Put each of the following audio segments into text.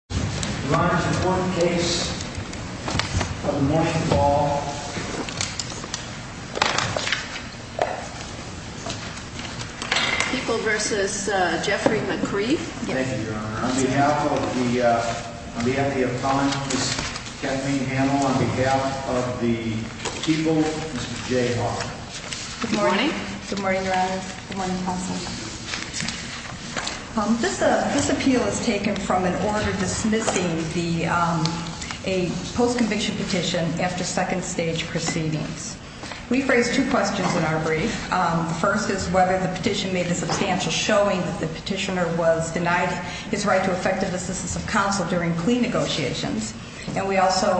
Thank you, Your Honor. On behalf of the Epcot, Ms. Kathleen Hamel, on behalf of the people, Mr. Jay Hart. Good morning. Good morning, Your Honor. Good morning, counsel. This appeal is taken from an order dismissing a post conviction petition after second stage proceedings. We've raised two questions in our brief. The first is whether the petition made a substantial showing that the petitioner was denied his right to effective assistance of counsel during plea negotiations. And we also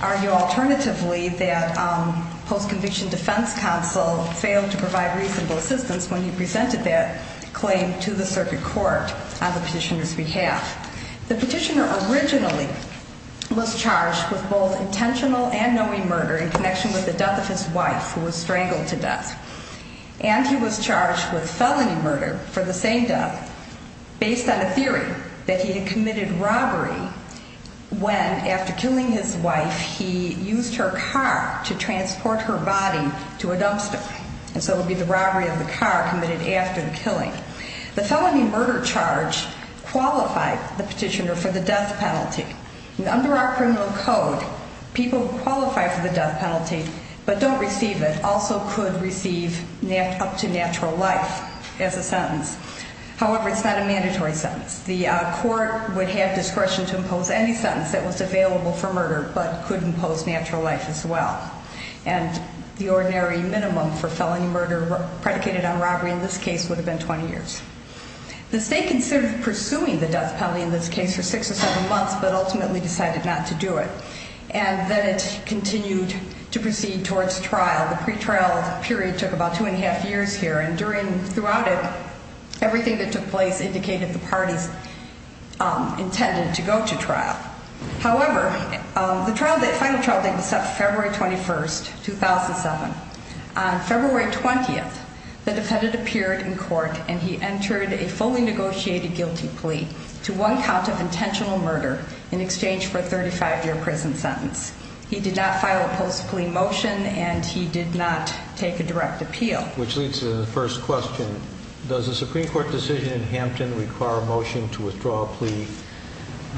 argue alternatively that post conviction defense counsel failed to provide reasonable assistance when he presented that claim to the circuit court on the petitioner's behalf. The petitioner originally was charged with both intentional and knowing murder in connection with the death of his wife, who was strangled to death. And he was charged with felony murder for the same death, based on a theory that he had committed robbery when after killing his wife, he used her car to transport her body to a dumpster. And so for the death penalty. Under our criminal code, people who qualify for the death penalty, but don't receive it, also could receive up to natural life as a sentence. However, it's not a mandatory sentence. The court would have discretion to impose any sentence that was available for murder, but could impose natural life as well. And the ordinary minimum for felony murder predicated on robbery in this case would have been 20 years. The state considered pursuing the death penalty in this case for six or seven months, but ultimately decided not to do it. And then it continued to proceed towards trial. The pretrial period took about two and a half years here. And during, throughout it, everything that took place indicated the parties intended to go to trial. However, the trial, the final trial date was set February 21st, 2007. On February 20th, the defendant appeared in court and he entered a fully negotiated guilty plea to one count of intentional murder in exchange for a 35-year prison sentence. He did not file a post-plea motion and he did not take a direct appeal. Which leads to the first question. Does the Supreme Court decision in Hampton require a motion to withdraw a plea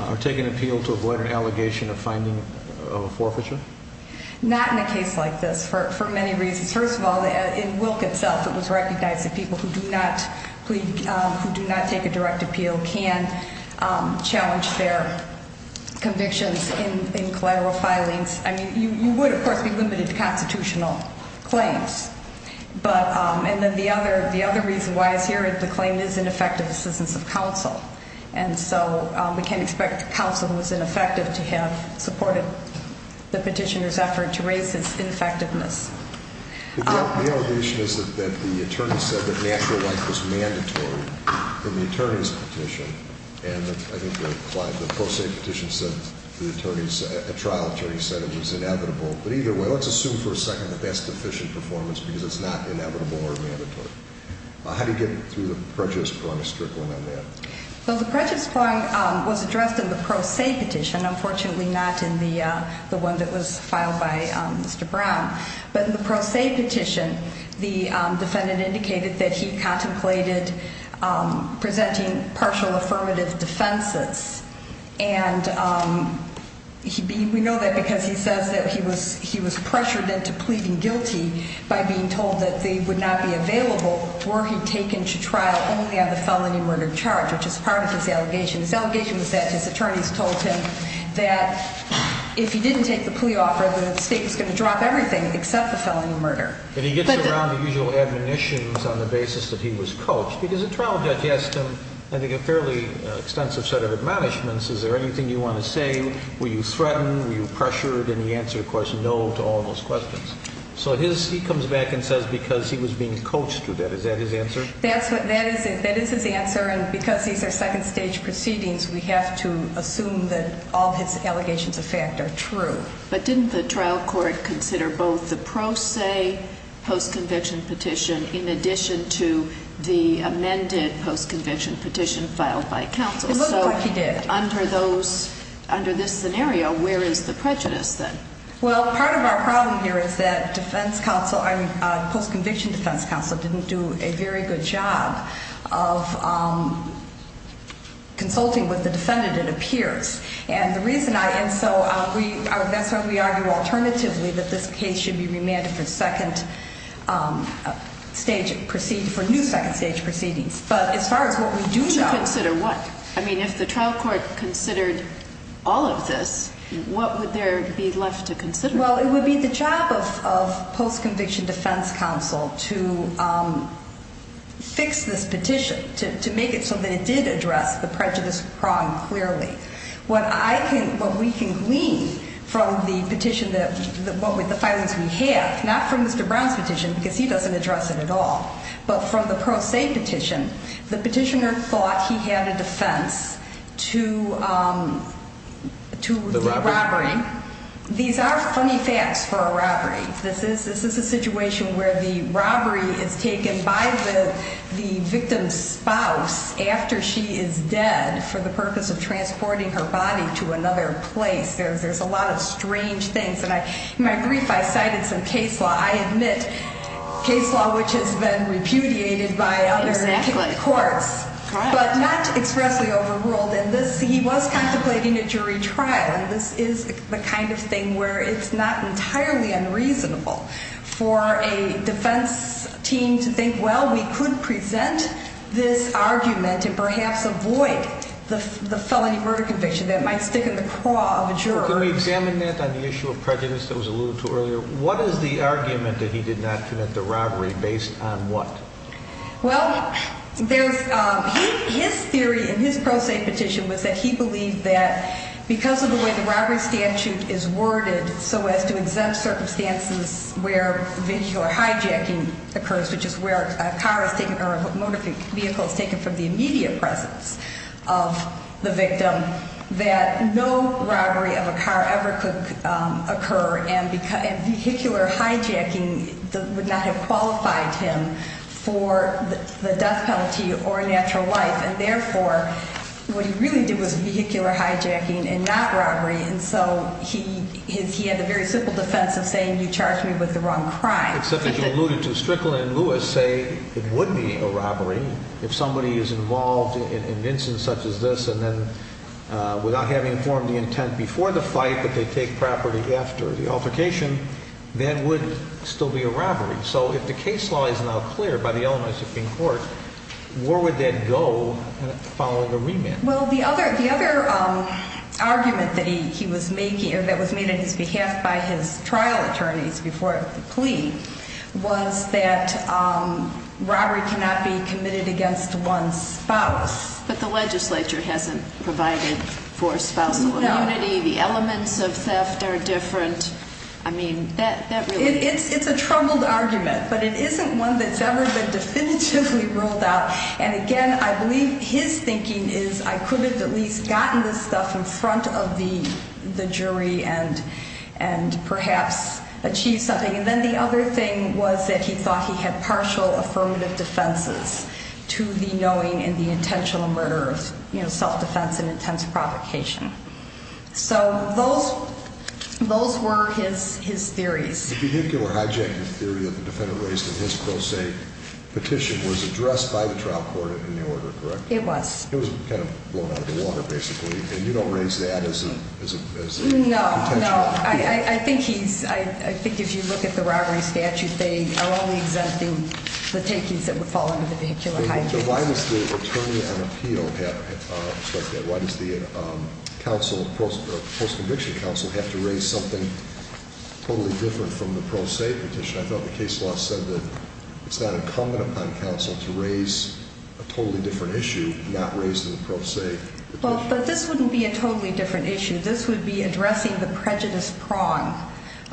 or take an appeal to avoid an allegation of finding a forfeiture? Not in a case like this, for many reasons. First of all, in Wilk itself, it was recognized that people who do not plead, who do not take a direct appeal can challenge their convictions in collateral filings. I mean, you would, of course, be limited to constitutional claims. But, and then the other, the other reason why it's here is the claim is ineffective assistance of counsel. And so we can't expect counsel who is ineffective to have supported the petitioner's effort to raise this ineffectiveness. The allegation is that the attorney said that natural life was mandatory in the attorney's petition. And I think the pro se petition said the attorney's, a trial attorney said it was inevitable. But either way, let's assume for a second that that's deficient performance because it's not inevitable or mandatory. How do you get through the prejudice prong of strickling on that? Well, the prejudice prong was addressed in the pro se petition, unfortunately not in the one that was filed by Mr. Brown. But in the pro se petition, the defendant indicated that he contemplated presenting partial affirmative defenses. And we know that because he says that he was pressured into pleading guilty by being told that they would not be available were he taken to trial only on the felony murder charge, which is part of his allegation. His allegation was that his attorneys told him that if he didn't take the plea offer, the state was going to drop everything except the felony murder. And he gets around the usual admonitions on the basis that he was coached. Because the trial judge asked him, I think, a fairly extensive set of admonishments. Is there anything you want to say? Were you threatened? Were you pressured? And he answered, of course, no to all those questions. So he comes back and says because he was being coached to that. Is that his answer? That is his answer. And because these are second stage proceedings, we have to assume that all his allegations of fact are true. But didn't the trial court consider both the pro se post-conviction petition in addition to the amended post-conviction petition filed by counsel? It looked like he did. So under this scenario, where is the prejudice then? Well, part of our problem here is that defense counsel, post-conviction defense counsel, didn't do a very good job of consulting with the defendant, it appears. And the reason I, and so that's why we argue alternatively that this case should be remanded for second stage, for new second stage proceedings. But as far as what we do know To consider what? I mean, if the trial court considered all of this, what would there be enough to consider? Well, it would be the job of post-conviction defense counsel to fix this petition, to make it so that it did address the prejudice prong clearly. What I can, what we can glean from the petition that, what with the filings we have, not from Mr. Brown's petition, because he doesn't address it at all, but from the pro se petition, the petitioner thought he had a defense to the robbery. These are funny facts for a robbery. This is a situation where the robbery is taken by the victim's spouse after she is dead for the purpose of transporting her body to another place. There's a lot of strange things. And in my brief, I cited some case law, which has been repudiated by courts, but not expressly overruled. And this, he was contemplating a jury trial. And this is the kind of thing where it's not entirely unreasonable for a defense team to think, well, we could present this argument and perhaps avoid the felony murder conviction that might stick in the craw of a jury. Can we examine that on the issue of prejudice that was alluded to earlier? What is the argument that he did not commit the robbery based on what? Well, there's, his theory in his pro se petition was that he believed that because of the way the robbery statute is worded so as to exempt circumstances where hijacking occurs, which is where a car is taken or a motor vehicle is taken from the immediate presence of the victim, that a car ever could occur. And vehicular hijacking would not have qualified him for the death penalty or a natural life. And therefore, what he really did was vehicular hijacking and not robbery. And so he had the very simple defense of saying, you charged me with the wrong crime. Except that you alluded to Strickland and Lewis say it would be a robbery if somebody is involved in an instance such as this and then without having informed the intent before the fight that they take property after the altercation, that would still be a robbery. So if the case law is now clear by the Illinois Supreme Court, where would that go following the remand? Well, the other argument that he was making or that was made on his behalf by his trial attorneys before the plea was that robbery cannot be committed against one's spouse. But the legislature hasn't provided for spousal immunity. The elements of theft are different. I mean, that really... It's a troubled argument, but it isn't one that's ever been definitively ruled out. And again, I believe his thinking is I could have at least gotten this stuff in front of the And then the other thing was that he thought he had partial affirmative defenses to the knowing and the intentional murder of self-defense and intense provocation. So those were his theories. The vehicular hijacking theory that the defendant raised in his pro se petition was addressed by the trial court in the order, correct? It was. It was kind of blown out of the water, basically. And you don't raise that as a... No, no. I think he's... I think if you look at the robbery statute, they are only exempting the takings that would fall under the vehicular hijacking statute. But why does the attorney on appeal have to strike that? Why does the post-conviction counsel have to raise something totally different from the pro se petition? I thought the case law said that it's not incumbent upon counsel to raise a totally different issue not raised in the pro se petition. But this wouldn't be a totally different issue. This would be addressing the prejudice prong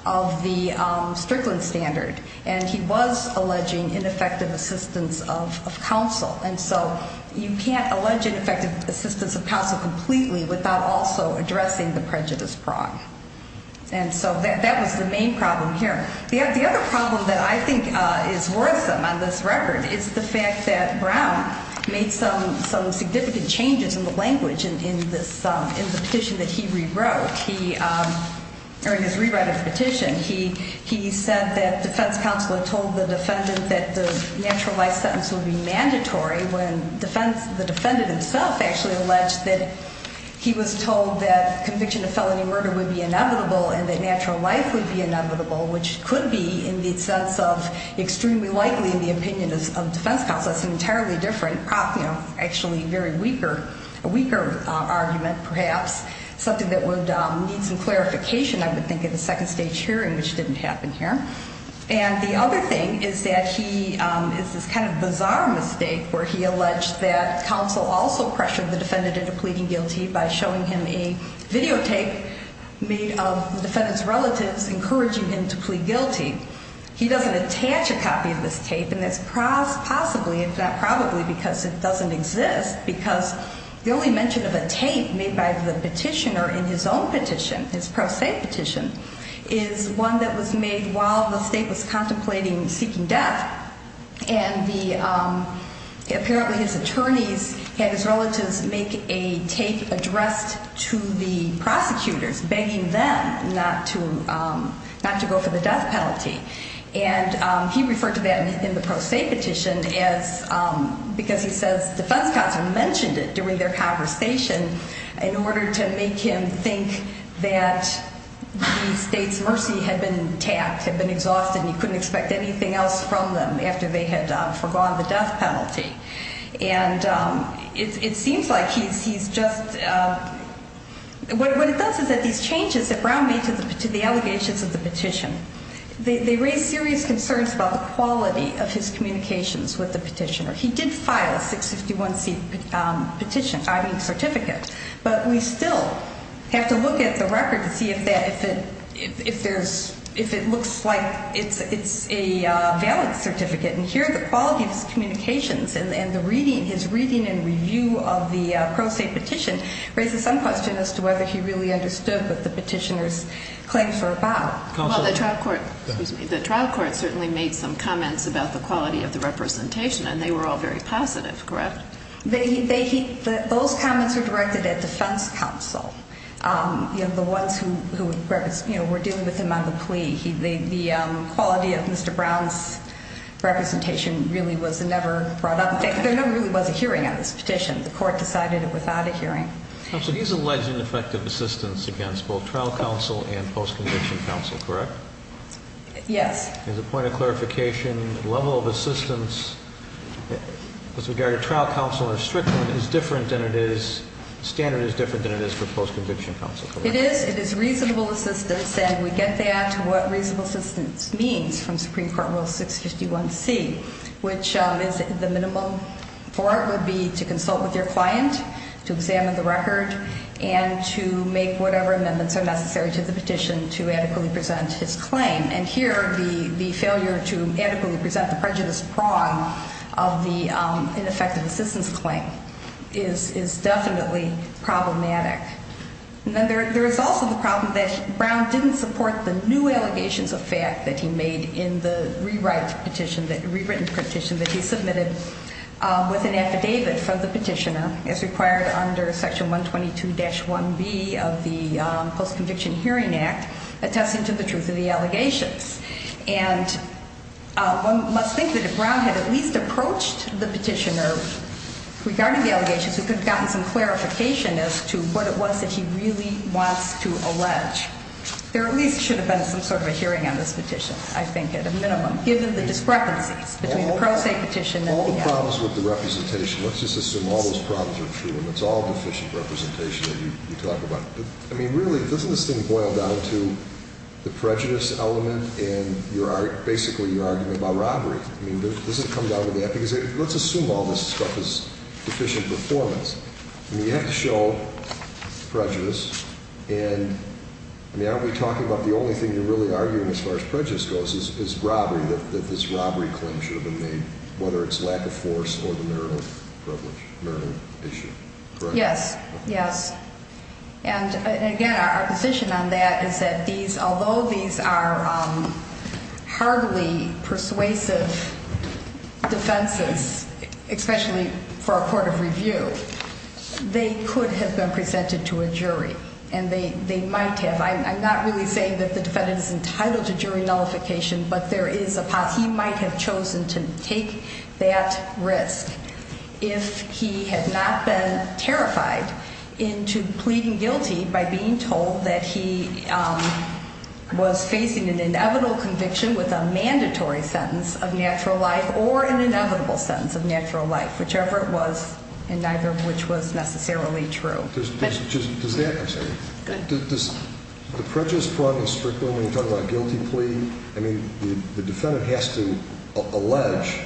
of the Strickland standard. And he was alleging ineffective assistance of counsel. And so you can't allege ineffective assistance of counsel completely without also addressing the prejudice prong. And so that was the main problem here. The other problem that I think is worrisome on this record is the fact that Brown made some significant changes in the language in the petition that he rewrote. During his rewriting of the petition, he said that defense counsel had told the defendant that the natural life sentence would be mandatory when the defendant himself actually alleged that he was told that conviction of felony murder would be inevitable and that natural life would be inevitable, which could be in the sense of extremely likely in the opinion of defense counsel. That's an entirely different, actually a very weaker argument perhaps, something that would need some clarification, I would think, at a second stage hearing, which didn't happen here. And the other thing is that he, it's this kind of bizarre mistake where he alleged that counsel also pressured the defendant into pleading guilty by showing him a videotape made of the defendant's relatives encouraging him to plead guilty. He doesn't attach a claim to that, possibly, if not probably, because it doesn't exist, because the only mention of a tape made by the petitioner in his own petition, his pro se petition, is one that was made while the state was contemplating seeking death, and the, apparently his attorneys had his relatives make a tape addressed to the prosecutors begging them not to, not to go for the death penalty. And he referred to that in the pro se petition as, because he says defense counsel mentioned it during their conversation in order to make him think that the state's mercy had been tapped, had been exhausted, and he couldn't expect anything else from them after they had forgone the death penalty. And it seems like he's just, what it does is that these changes that Brown made to the allegations of the petition, they raise serious concerns about the quality of his communications with the petitioner. He did file a 651c petition, I mean certificate, but we still have to look at the record to see if that, if there's, if it looks like it's a valid certificate. And here the quality of his communications and the reading, his reading and review of the pro se petition raises some question as to whether he really understood what the petitioner's claims were about. Well, the trial court, excuse me, the trial court certainly made some comments about the quality of the representation, and they were all very positive, correct? They, he, those comments were directed at defense counsel. You know, the ones who, you know, were dealing with him on the plea. The quality of Mr. Brown's representation really was never brought up. There never really was a hearing on this petition. The court decided it without a hearing. Counsel, he's alleged ineffective assistance against both trial counsel and post-conviction counsel, correct? Yes. As a point of clarification, level of assistance with regard to trial counsel and a strict one is different than it is, standard is different than it is for post-conviction counsel, correct? It is, it is reasonable assistance, and we get that, what reasonable assistance means from Supreme Court Rule 651C, which is the minimum for it would be to consult with your client, to examine the record, and to make whatever amendments are necessary to the petition to adequately present his claim. And here the failure to adequately present the prejudice prong of the ineffective assistance claim is definitely problematic. And then there is also the problem that Brown didn't support the new allegations of fact that he made in the rewrite petition, the rewritten petition that he submitted with an affidavit from the petitioner, as required under Section 122-1B of the Post-Conviction Hearing Act, attesting to the truth of the allegations. And one must think that if Brown had at least approached the petitioner regarding the allegations, he could have gotten some of what it was that he really wants to allege. There at least should have been some sort of a hearing on this petition, I think, at a minimum, given the discrepancies between the pro se petition and the act. All the problems with the representation, let's just assume all those problems are true, and it's all deficient representation that you talk about. I mean, really, doesn't this thing boil down to the prejudice element and basically your argument about robbery? I mean, does it come down to that? Because let's assume all this stuff is deficient performance. I mean, you have to show prejudice. And I mean, aren't we talking about the only thing you're really arguing as far as prejudice goes is robbery, that this robbery claim should have been made, whether it's lack of force or the marital privilege, marital issue, correct? Yes, yes. And again, our position on that is that these, although these are hardly persuasive defenses, especially for a court of review, they could have been presented to a jury and they might have. I'm not really saying that the defendant is entitled to jury nullification, but there is a possibility he might have chosen to take that risk if he had not been terrified into pleading guilty by being told that he was facing an inevitable conviction with a natural life or an inevitable sentence of natural life, whichever it was, and neither of which was necessarily true. Does that, I'm sorry, does the prejudice problem strictly when you talk about a guilty plea, I mean, the defendant has to allege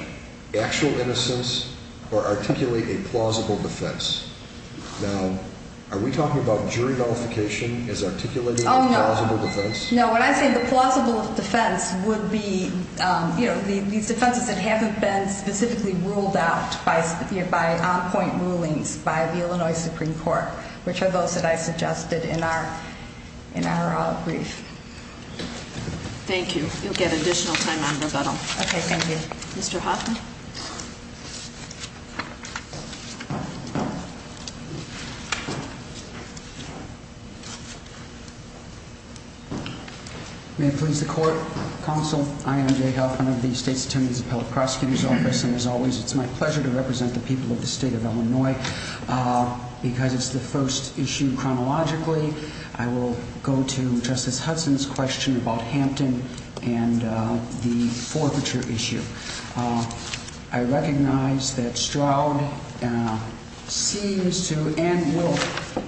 actual innocence or articulate a plausible defense. Now, are we talking about jury nullification as articulating a plausible defense? Oh, no. No, when I say the plausible defense would be these defenses that haven't been specifically ruled out by on-point rulings by the Illinois Supreme Court, which are those that I suggested in our brief. Thank you. You'll get additional time on rebuttal. Okay, thank you. Mr. Hoffman? May it please the Court, Counsel, I am Jay Hoffman of the State's Attorneys Appellate Prosecutor's Office, and as always, it's my pleasure to represent the people of the State of Illinois. Because it's the first issue chronologically, I will go to Justice I recognize that Stroud seems to and will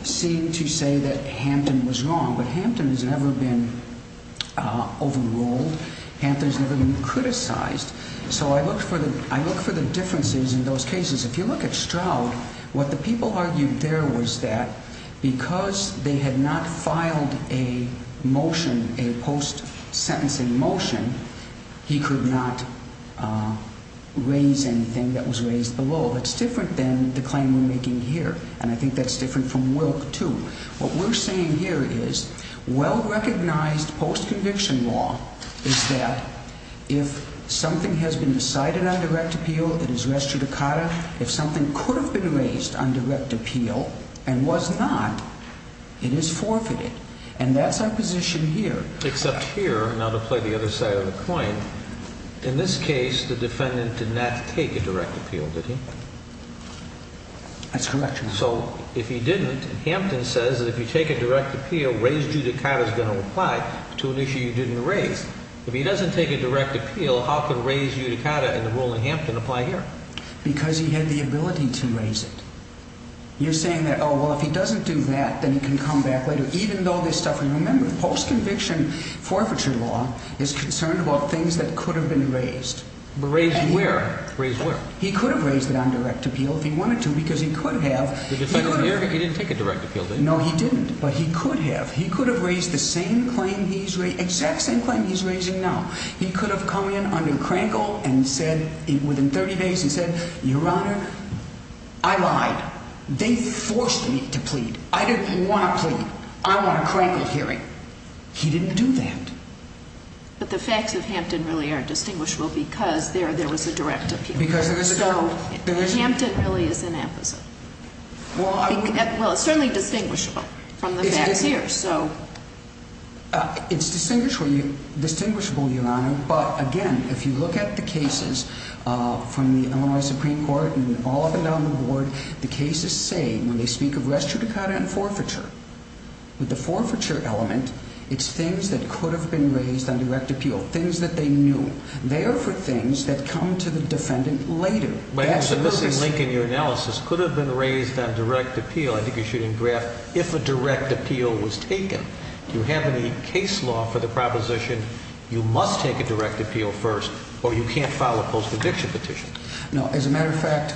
seem to say that Hampton was wrong, but Hampton has never been overruled. Hampton's never been criticized. So I look for the differences in those cases. If you look at Stroud, what the people argued there was that because they was raised below. It's different than the claim we're making here, and I think that's different from Wilk, too. What we're saying here is well-recognized post-conviction law is that if something has been decided on direct appeal, it is res judicata. If something could have been raised on direct appeal and was not, it is forfeited. And that's our position here. Except here, now to play the other side of the coin, in this case, the defendant did not take a direct appeal, did he? That's correct, Your Honor. So if he didn't, Hampton says that if you take a direct appeal, res judicata is going to apply to an issue you didn't raise. If he doesn't take a direct appeal, how can res judicata in the rule in Hampton apply here? Because he had the ability to raise it. You're saying that, oh, well, if he doesn't do that, then he can come back later, even though they're suffering. Remember, post-conviction forfeiture law is concerned about things that could have been raised. Raised where? Raised where? He could have raised it on direct appeal if he wanted to because he could have. The defendant here, he didn't take a direct appeal, did he? No, he didn't. But he could have. He could have raised the same claim he's raising, exact same claim he's raising now. He could have come in under Krankel and said, within 30 days, he said, Your Honor, I lied. They forced me to plead. I didn't want to plead. I want a Krankel hearing. He didn't do that. But the facts of Hampton really are distinguishable because there was a direct appeal. So Hampton really is an opposite. Well, it's certainly distinguishable from the facts here, so. It's distinguishable, Your Honor, but again, if you look at the cases from the Illinois Supreme Court and all up and down the board, the cases say, when they speak of res judicata and forfeiture, with the forfeiture element, it's things that could have been raised on direct appeal, things that they knew. They are for things that come to the defendant later. But there's a missing link in your analysis. Could have been raised on direct appeal. I think you're shooting a graph. If a direct appeal was taken, do you have any case law for the proposition, you must take a direct appeal first, or you can't file a post-addiction petition? No. As a matter of fact,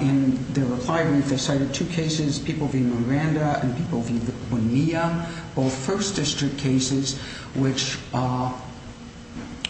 in the reply, they cited two cases, people v. Miranda and people v. Bonilla, both First District cases, which are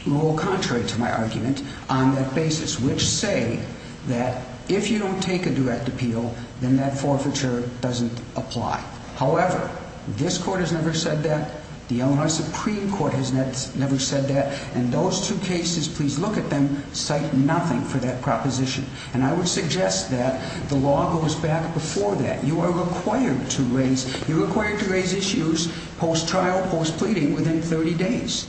a little contrary to my argument on that basis, which say that if you don't take a direct appeal, then that forfeiture doesn't apply. However, this Court has never said that. The Illinois Supreme Court has never said that. And those two cases, please look at them, cite nothing for that proposition. And I would suggest that the law goes back before that. You are required to raise issues post-trial, post-pleading within 30 days.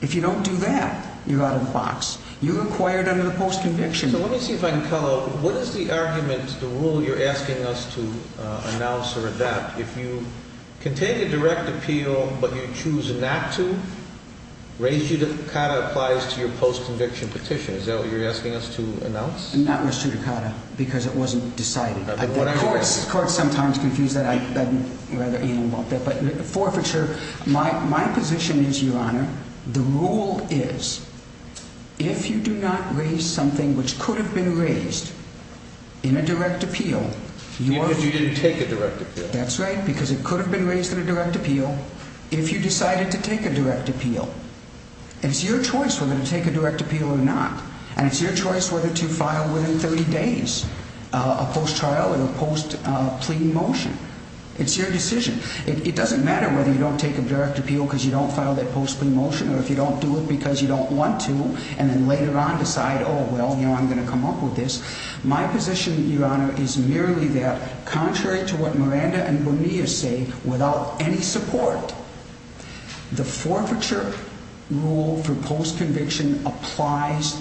If you don't do that, you're out of the box. You're required under the post-conviction. So let me see if I can follow up. What is the argument, the rule you're asking us to announce or adapt? If you contain a direct appeal, but you choose not to, res judicata applies to your post-conviction petition. Is that what you're asking us to announce? Not res judicata, because it wasn't decided. The courts sometimes confuse that. But forfeiture, my position is, Your Honor, the rule is, if you do not raise something which could have been raised in a direct appeal... Even if you didn't take a direct appeal. That's right, because it could have been raised in a direct appeal. If you decided to take a direct appeal, it's your choice whether to take a direct appeal or not. And it's your choice whether to file within 30 days a post-trial or a post-pleading motion. It's your decision. It doesn't matter whether you don't take a direct appeal because you don't file that post-pleading motion, or if you don't do it because you don't want to, and then later on decide, oh, well, you know, I'm going to come up with this. My position, Your Honor, is merely that, contrary to what the rule for post-conviction applies,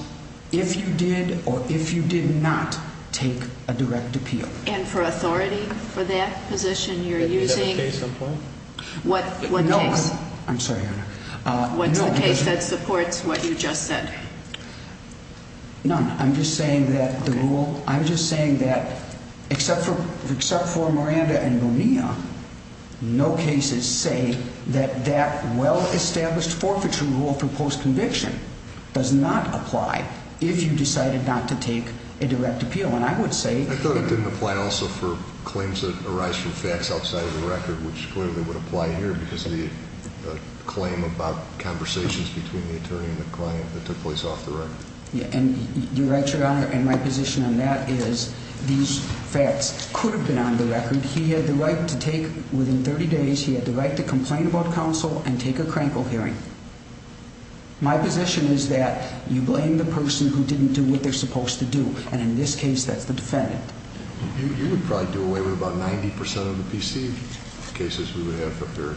if you did or if you did not take a direct appeal. And for authority for that position, you're using... Do you have a case in point? No. I'm sorry, Your Honor. What's the case that supports what you just said? None. I'm just saying that the rule... I'm just saying that, except for Miranda and Bonilla, no cases say that that well-established forfeiture rule for post-conviction does not apply if you decided not to take a direct appeal. And I would say... I thought it didn't apply also for claims that arise from facts outside of the record, which clearly would apply here because the claim about conversations between the attorney and the client that took place off the record. And you're right, Your Honor, and my position on that is these facts could have been on the record. He had the right to take, within 30 days, he had the right to complain about counsel and take a crankle hearing. My position is that you blame the person who didn't do what they're supposed to do, and in this case, that's the defendant. You would probably do away with about 90% of the PC cases we would have up there.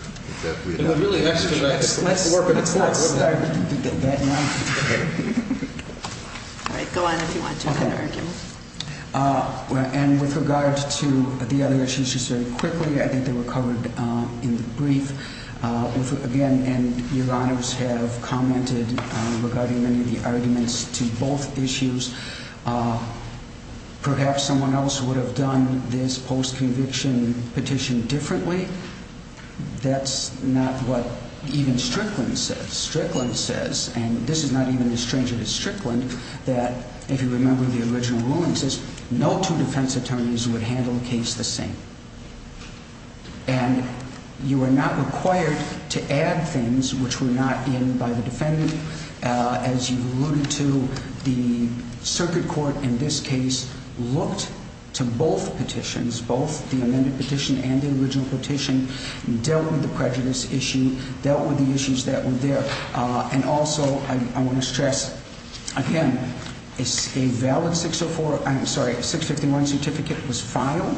It really has to do with the work of the court. That's not what I did that night. All right, go on if you want to do that argument. And with regard to the other issues, just very quickly, I think they were covered in the brief. Again, and Your Honors have commented regarding many of the arguments to both issues. Perhaps someone else would have done this post-conviction petition differently. That's not what even Strickland says. Strickland says, and this is not even as strange as Strickland, that if you remember the original ruling, it says no two defense attorneys would handle a case the same. And you are not required to add things which were not in by the defendant. As you alluded to, the circuit court in this case looked to both petitions, both the amended petition and the original petition, and dealt with the prejudice issue, dealt with the issues that were there. And also, I want to stress, again, a valid 604, I'm sorry, 651 certificate was filed.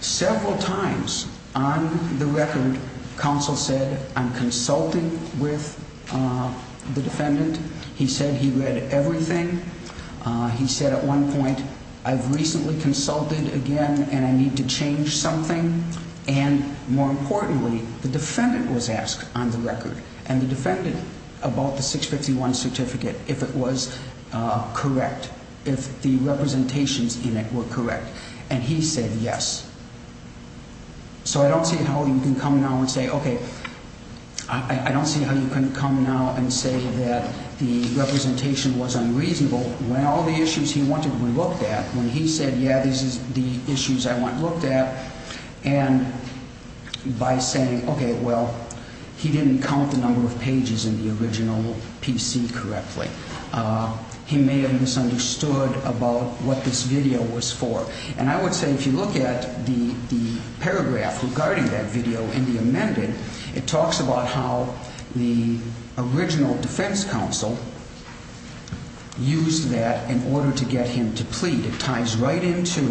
Several times on the record, counsel said, I'm consulting with the defendant. He said he read everything. He said at one point, I've recently consulted again and I need to change something. And more importantly, the defendant was asked on the record and the defendant about the 651 certificate, if it was correct, if the representations in it were correct. And he said yes. So I don't see how you can come now and say, okay, I don't see how you can come now and say that the representation was unreasonable. So when all the issues he wanted were looked at, when he said, yeah, these are the issues I want looked at, and by saying, okay, well, he didn't count the number of pages in the original PC correctly. He may have misunderstood about what this video was for. And I would say if you look at the paragraph regarding that video in the amended, it talks about how the original defense counsel used that in order to get him to plead. It ties right into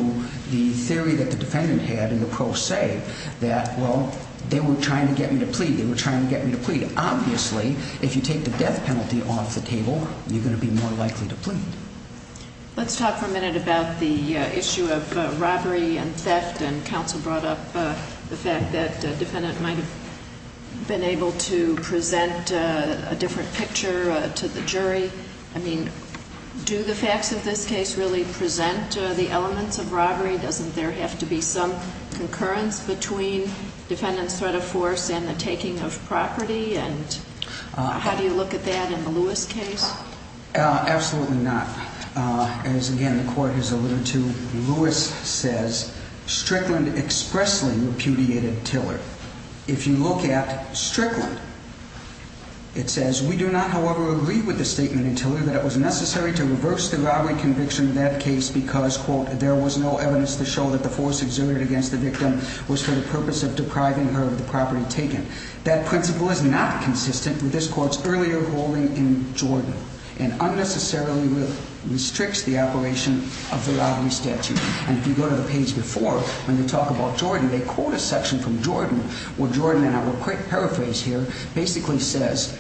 the theory that the defendant had in the pro se that, well, they were trying to get me to plead. They were trying to get me to plead. Obviously, if you take the death penalty off the table, you're going to be more likely to plead. Let's talk for a minute about the issue of robbery and theft. And counsel brought up the fact that the defendant might have been able to present a different picture to the jury. I mean, do the facts of this case really present the elements of robbery? Doesn't there have to be some concurrence between defendant's threat of force and the taking of property? And how do you look at that in the Lewis case? Absolutely not. As, again, the court has alluded to, Lewis says Strickland expressly repudiated Tiller. If you look at Strickland, it says, We do not, however, agree with the statement in Tiller that it was necessary to reverse the robbery conviction in that case because, quote, there was no evidence to show that the force exerted against the victim was for the purpose of depriving her of the property taken. That principle is not consistent with this court's earlier ruling in Jordan and unnecessarily restricts the operation of the robbery statute. And if you go to the page before, when they talk about Jordan, they quote a section from Jordan where Jordan, and I will paraphrase here, basically says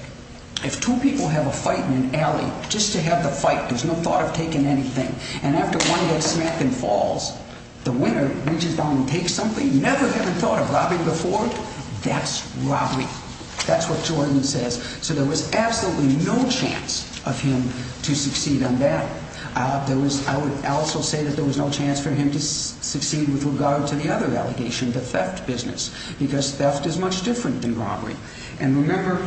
if two people have a fight in an alley just to have the fight, there's no thought of taking anything. And after one gets smacked and falls, the winner reaches down and takes something, never having thought of robbing before, that's robbery. That's what Jordan says. So there was absolutely no chance of him to succeed on that. I would also say that there was no chance for him to succeed with regard to the other allegation, the theft business, because theft is much different than robbery. And remember,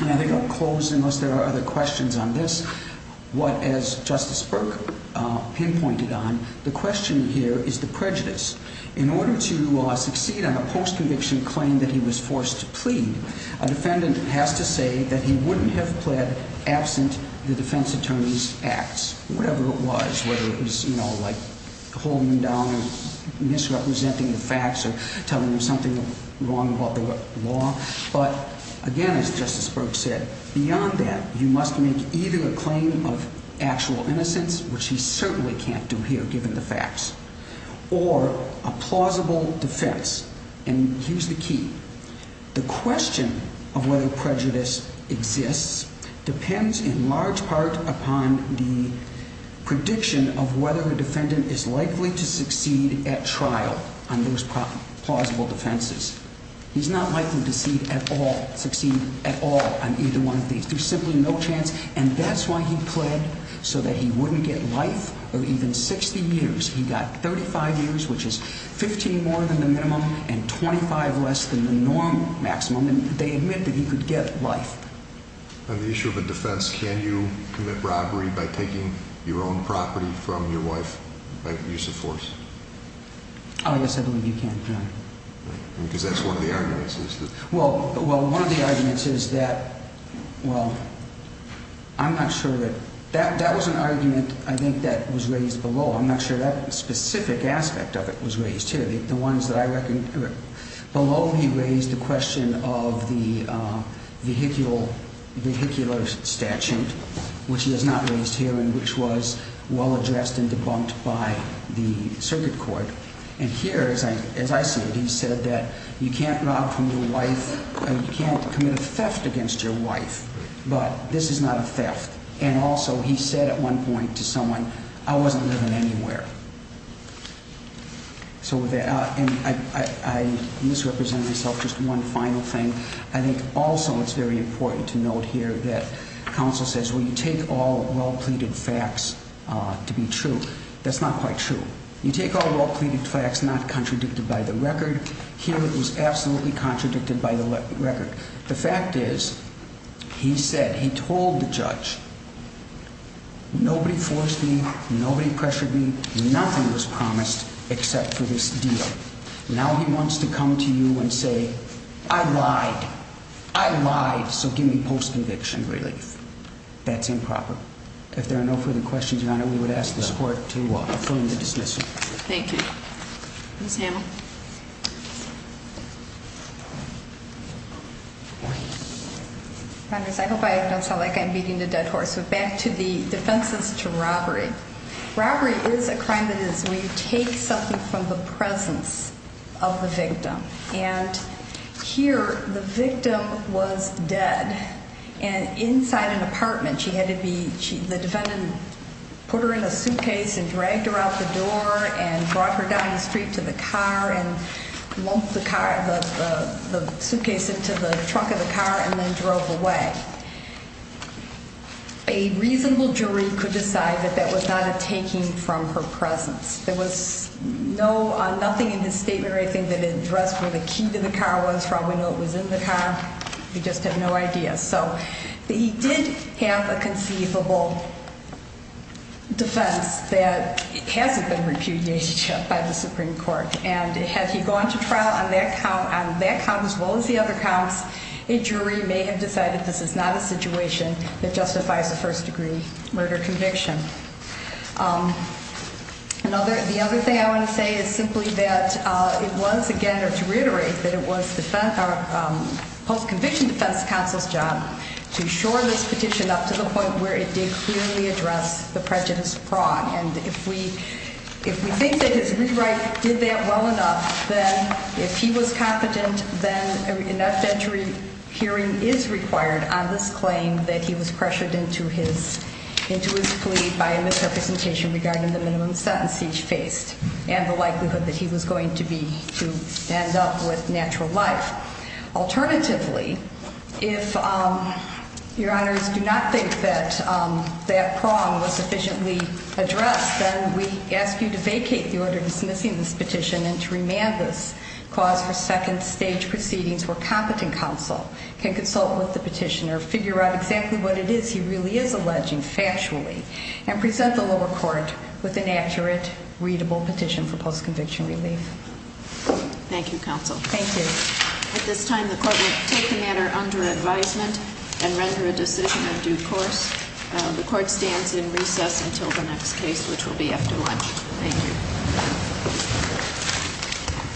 and I think I'll close unless there are other questions on this, what, as Justice Burke pinpointed on, the question here is the prejudice. In order to succeed on a post-conviction claim that he was forced to plead, a defendant has to say that he wouldn't have pled absent the defense attorney's acts, whatever it was, whether it was, you know, like holding him down and misrepresenting the facts or telling him something wrong about the law. But again, as Justice Burke said, beyond that, you must make either a claim of actual innocence, which he certainly can't do here given the facts, or a plausible defense. And here's the key. The question of whether prejudice exists depends in large part upon the prediction of whether a defendant is likely to succeed at trial on those plausible defenses. He's not likely to succeed at all on either one of these. There's simply no chance, and that's why he pled, so that he wouldn't get life or even 60 years. He got 35 years, which is 15 more than the minimum and 25 less than the norm maximum, and they admit that he could get life. On the issue of a defense, can you commit robbery by taking your own property from your wife by use of force? Oh, yes, I believe you can, yeah. Well, one of the arguments is that, well, I'm not sure that, that was an argument I think that was raised below. I'm not sure that specific aspect of it was raised here. The ones that I reckon, below he raised the question of the vehicular statute, which he has not raised here and which was well addressed and debunked by the circuit court. And here, as I see it, he said that you can't rob from your wife, you can't commit a theft against your wife, but this is not a theft. And also, he said at one point to someone, I wasn't living anywhere. So, and I misrepresented myself, just one final thing. I think also it's very important to note here that counsel says, well, you take all well pleaded facts to be true. That's not quite true. You take all well pleaded facts not contradicted by the record. Here, it was absolutely contradicted by the record. The fact is, he said, he told the judge, nobody forced me, nobody pressured me, nothing was promised except for this deal. Now, he wants to come to you and say, I lied. I lied, so give me post conviction relief. That's improper. If there are no further questions, Your Honor, we would ask this court to affirm the dismissal. Thank you. Ms. Hamel. I hope I don't sound like I'm beating a dead horse. Back to the defenses to robbery. Robbery is a crime that is where you take something from the presence of the victim. And here, the victim was dead. And inside an apartment, she had to be, the defendant put her in a suitcase and dragged her out the door and brought her down the street to the car and lumped the suitcase into the trunk of the car and then drove away. A reasonable jury could decide that that was not a taking from her presence. There was no, nothing in his statement or anything that addressed where the key to the car was. Probably know it was in the car. We just have no idea. So he did have a conceivable defense that hasn't been repudiated by the Supreme Court. And had he gone to trial on that count as well as the other counts, a jury may have decided this is not a situation that justifies a first degree murder conviction. The other thing I want to say is simply that it was, again, or to reiterate, that it was defense, our post-conviction defense counsel's job to shore this petition up to the point where it did clearly address the prejudice fraud. And if we think that his rewrite did that well enough, then if he was competent, then an F-entry hearing is required on this claim that he was pressured into his plea by a misrepresentation regarding the minimum sentence he faced and the likelihood that he was going to be, to end up with natural life. Alternatively, if your honors do not think that that prong was sufficiently addressed, then we ask you to vacate the order dismissing this petition and to remand this cause for second stage proceedings where competent counsel can consult with the petitioner, figure out exactly what it is he really is alleging factually, and present the lower court with an accurate, readable petition for post-conviction relief. Thank you, counsel. Thank you. At this time, the court will take the matter under advisement and render a decision of due course. The court stands in recess until the next case, which will be after lunch. Thank you.